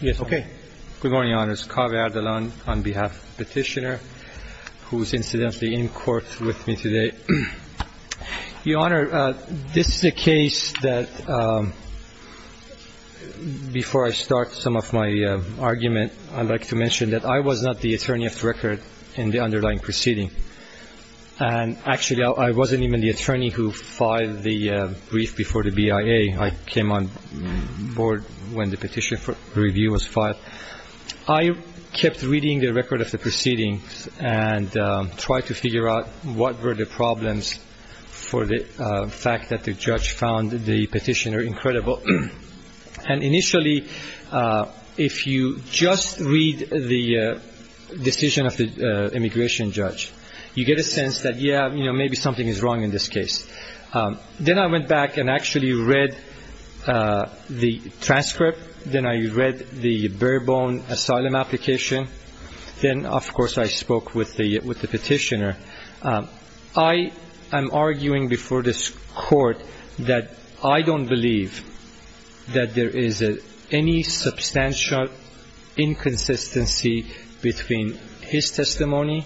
Good morning, Your Honors. Kaveh Erdalan on behalf of the petitioner, who is incidentally in court with me today. Your Honor, this is a case that, before I start some of my argument, I'd like to mention that I was not the attorney of the record in the underlying proceeding. And actually, I wasn't even the attorney who filed the brief before the BIA. I came on court when the petition review was filed. I kept reading the record of the proceedings and tried to figure out what were the problems for the fact that the judge found the petitioner incredible. And initially, if you just read the decision of the immigration judge, you get a sense that, yeah, maybe something is wrong in this case. Then I went back and actually read the transcript. Then I read the bare-bone asylum application. Then, of course, I spoke with the petitioner. I am arguing before this court that I don't believe that there is any substantial inconsistency between his testimony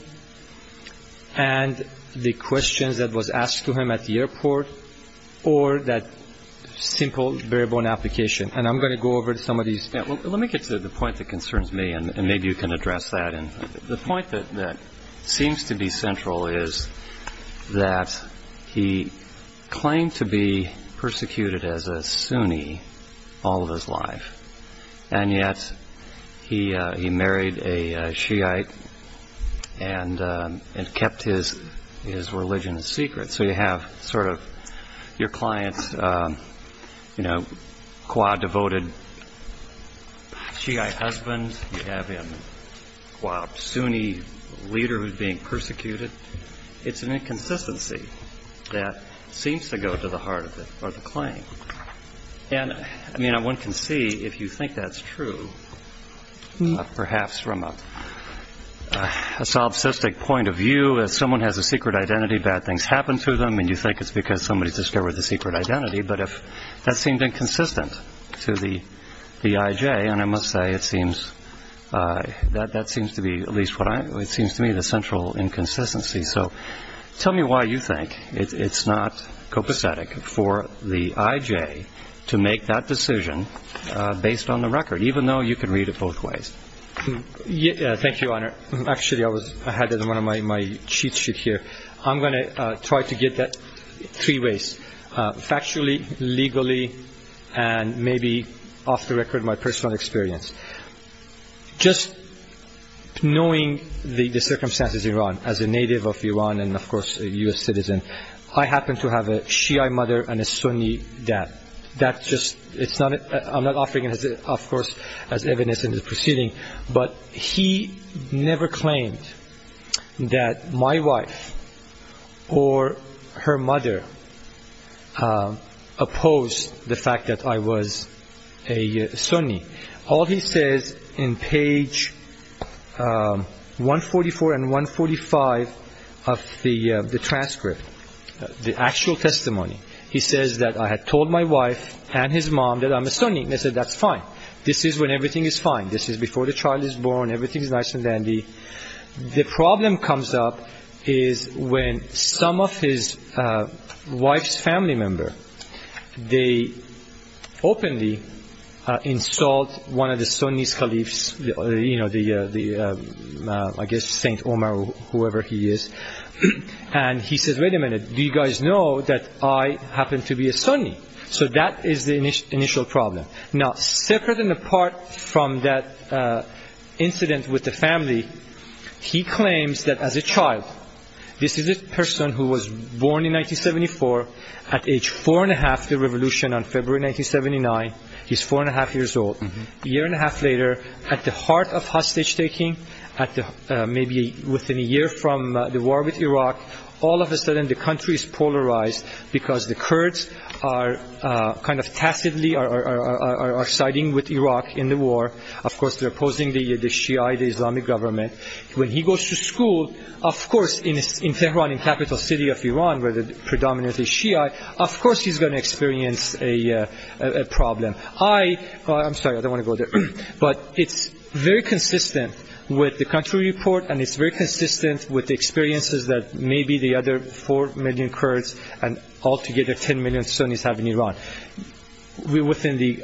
and the questions that was asked to him at the time. Let me get to the point that concerns me, and maybe you can address that. The point that seems to be central is that he claimed to be persecuted as a Sunni all of his life. And yet he married a Shiite and kept his religion a secret. So you have sort of your client's, you know, qua devoted Shiite husband. You have him qua Sunni leader who is being persecuted. It's an inconsistency that seems to go to the heart of it, or the claim. And, I mean, one can see, if you think that's true, perhaps from a solipsistic point of view, if someone has a secret identity, bad things happen to them, and you think it's because somebody discovered the secret identity. But if that seemed inconsistent to the IJ, and I must say it seems that that seems to be, at least what I, it seems to me the central inconsistency. So tell me why you think it's not copacetic for the IJ to make that decision based on the record, even though you can read it both ways. Thank you, Your Honor. Actually, I was ahead of one of my sheets here. I'm going to try to get that three ways, factually, legally, and maybe off the record my personal experience. Just knowing the circumstances in Iran, as a native of Iran and, of course, a U.S. citizen, I happen to have a Shiite mother and a Sunni dad. That's just, it's not, I'm not offering it as, of course, as evidence in the proceeding, but he never claimed that my wife or her mother opposed the fact that I was a Sunni. All he says in page 144 and 145 of the transcript, the actual testimony, he says that I had told my wife and his mom that I'm a Sunni. They said, that's fine. This is when everything is fine. This is before the child is born. Everything is nice and dandy. The problem comes up is when some of his wife's family member, they openly insult one of the Sunni's caliphs, you know, the, I guess, Saint Omar, whoever he is, and he says, wait a minute, do you guys know that I happen to be a Sunni? So that is the initial problem. Now, separate and apart from that incident with the family, he claims that as a child, this is a person who was born in 1974 at age four and a half, the revolution on February 1979. He's four and a half years old. A year and a half later, at the heart of hostage taking, at the, maybe within a year from the war with Iraq, all of a sudden the country is polarized because the Kurds are kind of tacitly, are siding with Iraq in the war. Of course, they're opposing the Shiite Islamic government. When he goes to school, of course, in Tehran, in capital city of Iran, where the predominant is Shiite, of course, he's going to experience a problem. I, I'm sorry, I don't want to go there, but it's very consistent with the country report and it's very consistent with the experiences that maybe the other four million Kurds and altogether 10 million Sunnis have in Iran. Within the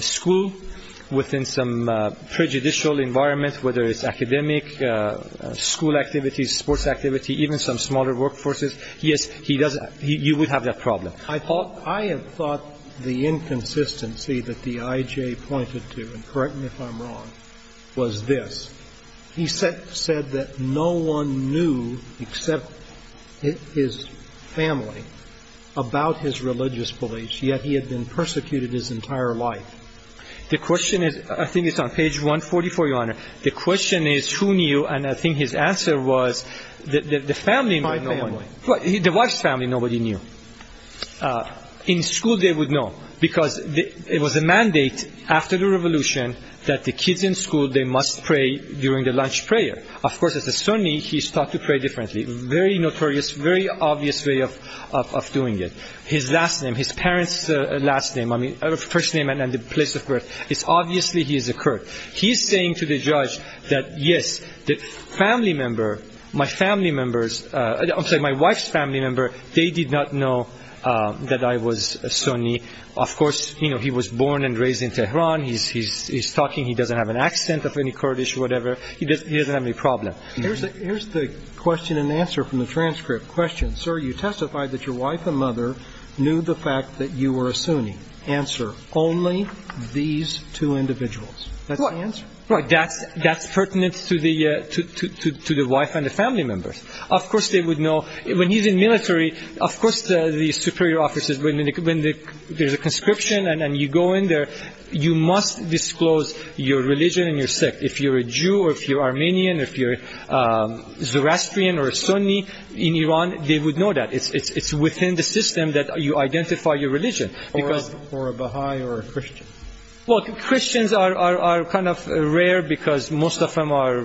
school, within some prejudicial environment, whether it's academic, school activities, sports activity, even some smaller workforces, yes, he does, you would have that problem. I thought, I have thought the inconsistency that the IJ pointed to, and correct me if I'm wrong, was this. He said, said that no one knew except his family about his religious beliefs, yet he had been persecuted his entire life. The question is, I think it's on page 144, Your Honor. The question is who knew, and I think his answer was that the family knew. My family. The wife's family, nobody knew. In school, they would know because it was a mandate after the revolution that the kids in school, they must pray during the lunch prayer. Of course, as a Sunni, he's taught to pray differently. Very notorious, very obvious way of doing it. His last name, his parents' last name, I mean, first name and the place of birth, it's obviously he's a Kurd. He's saying to the judge that, yes, the family member, my family members, I'm sorry, my wife's family member, they did not know that I was a Sunni. Of course, you know, he was born and raised in Tehran. He's talking, he doesn't have an accent of any Kurdish or whatever. He doesn't have any problem. Here's the question and answer from the transcript question. Sir, you testified that your wife and mother knew the fact that you were a Sunni. Answer, only these two individuals. That's the answer. Right. That's pertinent to the wife and the family members. Of course, they would know. When he's in military, of course, the superior officers, when there's a conscription and you go in there, you must disclose your religion and your sect. If you're a Jew or if you're Armenian, if you're a Zoroastrian or a Sunni in Iran, they would know that. It's within the system that you identify your religion. Or a Baha'i or a Christian. Christians are kind of rare because most of them are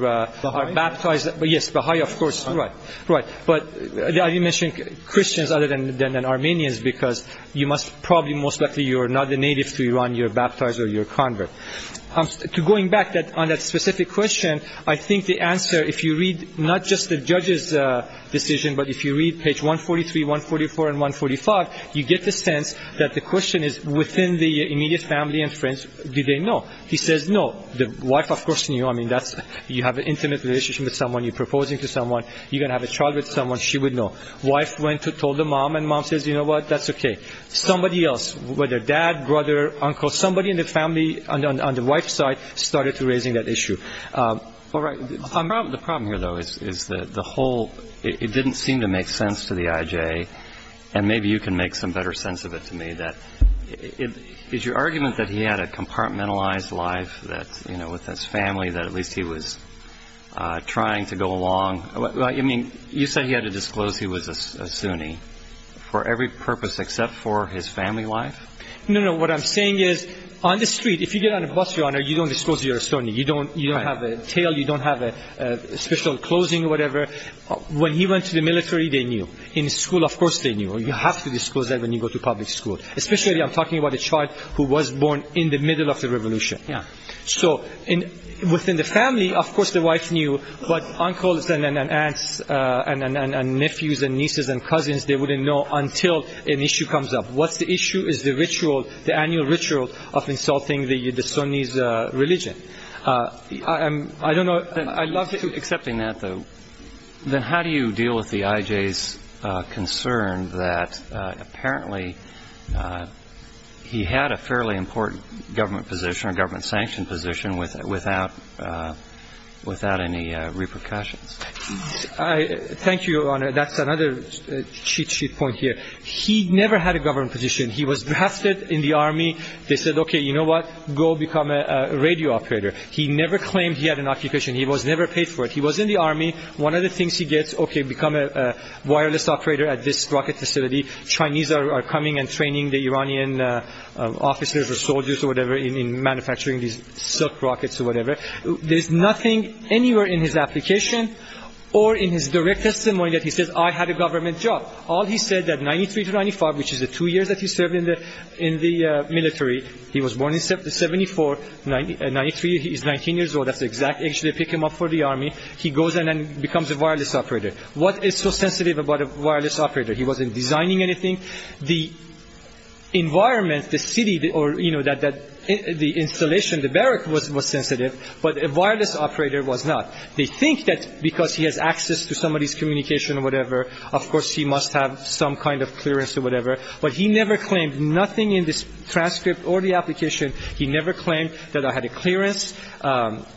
baptized. Yes, Baha'i, of course. But I didn't mention Christians other than Armenians because you must probably, most likely, you're not a native to Iran. You're baptized or you're a convert. Going back on that specific question, I think the answer, if you read not just the judge's decision, but if you read page 143, 144 and 145, you get the sense that the question is within the immediate family and friends, do they know? He says no. The wife, of course, knew. You have an intimate relationship with someone. You're proposing to someone. You're going to have a child with someone. She would know. Wife went to tell the mom and mom says, you know what, that's okay. Somebody else, whether dad, brother, uncle, somebody in the family on the wife's side started to raising that issue. All right. The problem here, though, is that the whole, it didn't seem to make sense to the IJ, and maybe you can make some better sense of it to me, that is your argument that he had a compartmentalized life that, you know, with his family, that at least he was trying to go along. I mean, you said he had to disclose he was a Sunni for every purpose except for his family life. No, no. What I'm saying is on the street, if you get on a bus, Your Honor, you don't disclose you're a Sunni. You don't have a tail. You don't have a special closing or whatever. When he went to the military, they knew. In school, of course, they knew. You have to disclose that when you go to public school, especially I'm talking about a child who was born in the middle of the revolution. So within the family, of course, the wife knew, but uncles and aunts and nephews and nieces and cousins, they wouldn't know until an issue comes up. What's the issue is the ritual, the annual ritual of insulting the Sunni's religion. I don't know but I would say, I guess, apparently, he had a fairly important government position or government-sanctioned position without any repercussions. Thank you, Your Honor. That's another cheat sheet point here. He never had a government position. He was drafted in the Army. They said, okay, you know what? Go become a radio operator. He never claimed he had an occupation. He was never paid for it. He was in the Army. One of the things he gets, okay, become a wireless operator at this rocket facility. Chinese are coming and training the Iranian officers or soldiers or whatever in manufacturing these silk rockets or whatever. There's nothing anywhere in his application or in his direct testimony that he says, I had a government job. All he said that 93 to 95, which is the two years that he served in the military, he was born in 74. 93, he's 19 years old. That's the exact age they pick him up for the Army. He goes in and becomes a wireless operator. What is so sensitive about a wireless operator? He wasn't designing anything. The environment, the city or, you know, the installation, the barrack was sensitive. But a wireless operator was not. They think that because he has access to somebody's communication or whatever, of course, he must have some kind of clearance or whatever. But he never claimed nothing in this transcript or the application. He never claimed that I had clearance,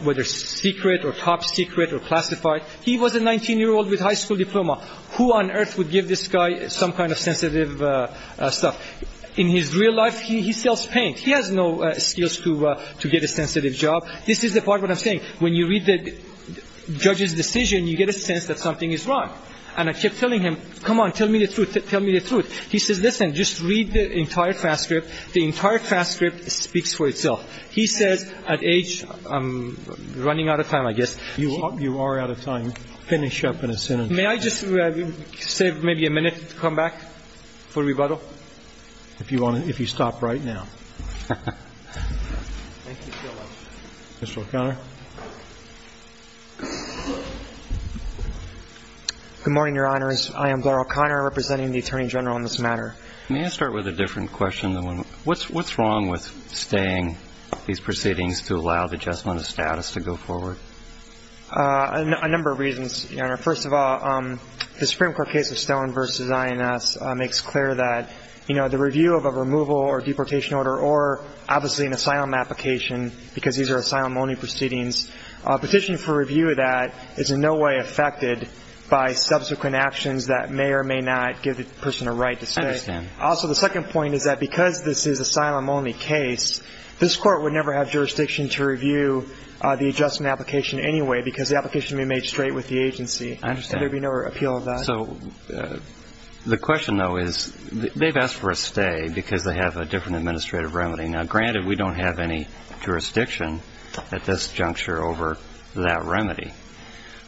whether secret or top secret or classified. He was a 19-year-old with high school diploma. Who on earth would give this guy some kind of sensitive stuff? In his real life, he sells paint. He has no skills to get a sensitive job. This is the part what I'm saying. When you read the judge's decision, you get a sense that something is wrong. And I kept telling him, come on, tell me the truth. Tell me the truth. He says, listen, just read the entire transcript. It speaks for itself. He says at age, I'm running out of time, I guess. You are out of time. Finish up in a sentence. May I just save maybe a minute to come back for rebuttal? If you want to, if you stop right now. Thank you so much. Mr. O'Connor. Good morning, Your Honors. I am Glenn O'Connor representing the Attorney General on this matter. May I start with a different question? What's wrong with staying these proceedings to allow the adjustment of status to go forward? A number of reasons, Your Honor. First of all, the Supreme Court case of Stone v. INS makes clear that the review of a removal or deportation order or obviously an asylum application, because these are asylum-only proceedings, a petition for review of that is in no way affected by subsequent actions that may or may not give the person a right to stay. Also, the second point is that because this is asylum-only case, this Court would never have jurisdiction to review the adjustment application anyway, because the application would be made straight with the agency. Would there be no appeal of that? I understand. So the question, though, is they've asked for a stay because they have a different administrative remedy. Now, granted, we don't have any jurisdiction at this juncture over that remedy.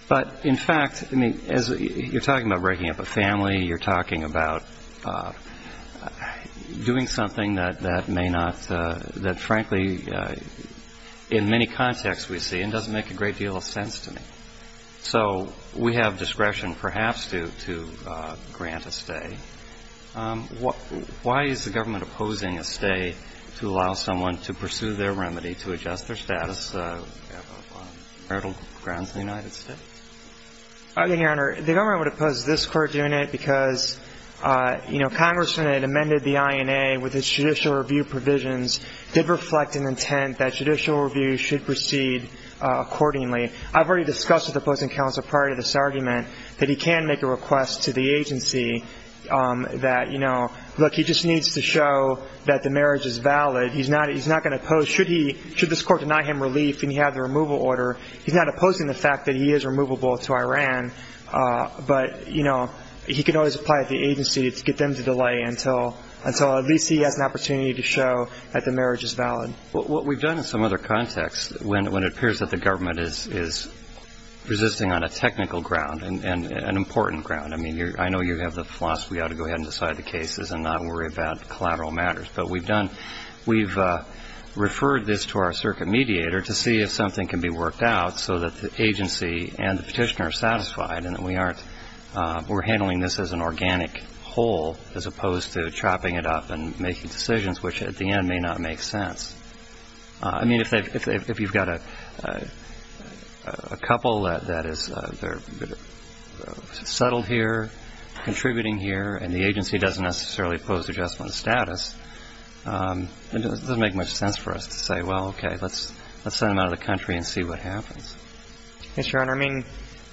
But in fact, I mean, as you're talking about breaking up a family, you're talking about doing something that may not – that, frankly, in many contexts we see, it doesn't make a great deal of sense to me. So we have discretion, perhaps, to grant a stay. Why is the government opposing a stay to allow someone to pursue their remedy to adjust their status of marital grounds in the United States? Your Honor, the government would oppose this Court doing it because, you know, Congressman had amended the INA with its judicial review provisions, did reflect an intent that judicial review should proceed accordingly. I've already discussed with the opposing counsel prior to this argument that he can make a request to the agency that, you know, look, he just needs to show that the marriage is valid. He's not – he's not going to oppose – should he – should this Court deny him relief and he have the removal order. He's not opposing the fact that he is removable to Iran. But, you know, he can always apply at the agency to get them to delay until at least he has an opportunity to show that the marriage is valid. Well, what we've done in some other contexts when it appears that the government is resisting on a technical ground and an important ground – I mean, I know you have the philosophy you ought to go ahead and decide the cases and not worry about collateral matters. But we've done – we've referred this to our circuit mediator to see if something can be worked out so that the agency and the petitioner are satisfied and that we aren't – we're handling this as an organic whole as opposed to chopping it up and making decisions which at the end may not make sense. I mean, if you've got a couple that is – they're settled here, contributing here, and the agency doesn't necessarily oppose adjustment of status, it doesn't make much sense for us to say, well, okay, let's send them out of the country and see what happens. Yes, Your Honor. I mean,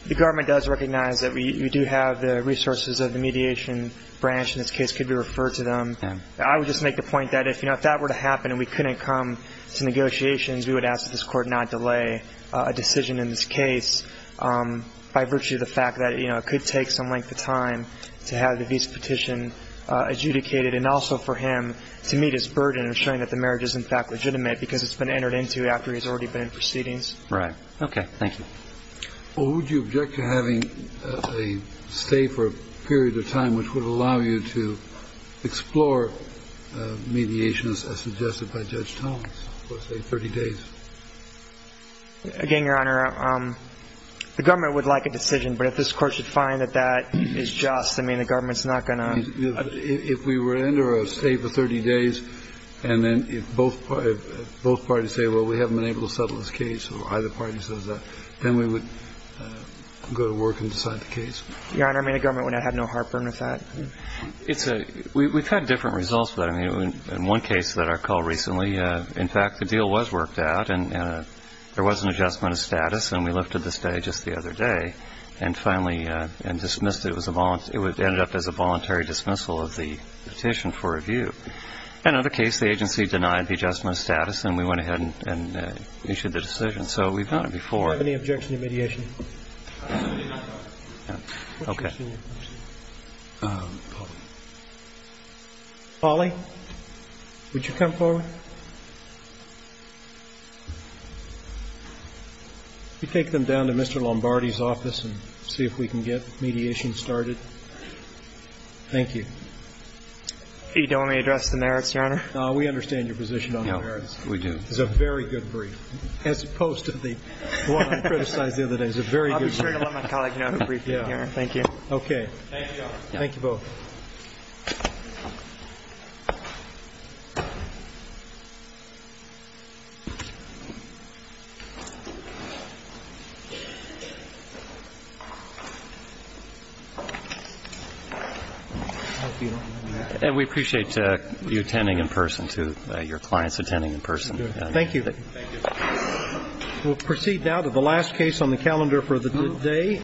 the government does recognize that we do have the resources of the mediation branch in this case could be referred to them. I would just make the point that if, you know, if that were to happen and we couldn't come to negotiations, we would ask that this Court not delay a decision in this case by virtue of the fact that, you know, it could take some time to have the visa petition adjudicated and also for him to meet his burden of showing that the marriage is in fact legitimate because it's been entered into after he's already been in proceedings. Right. Okay. Thank you. Well, would you object to having a stay for a period of time which would allow you to explore mediation as suggested by Judge Thomas, let's say 30 days? Again, Your Honor, the government would like a decision, but if this Court should find that that is just, I mean, the government's not going to... If we were under a stay for 30 days, and then if both parties say, well, we haven't been able to settle this case or either party says that, then we would go to work and decide the case. Your Honor, I mean, the government would not have no heartburn with that. We've had different results for that. I mean, in one case that I called recently, in fact, the deal was worked out and there was an adjustment of status and we lifted the stay just the other day and finally dismissed it. It ended up as a voluntary dismissal of the petition for review. In another case, the agency denied the adjustment of status and we went ahead and issued the decision. So we've done it before. Do you have any objection to mediation? Okay. Polly, would you come forward? We take them down to Mr. Lombardi's office and see if we can get mediation started. Thank you. You don't want me to address the merits, Your Honor? No, we understand your brief. As opposed to the one I criticized the other day. I'll be sure to let my colleague know I'm briefing, Your Honor. Thank you. Okay. Thank you, Your Honor. Thank you both. We appreciate you attending in person too, your clients attending in person. Thank you. We'll proceed now to the last case on the calendar for the day.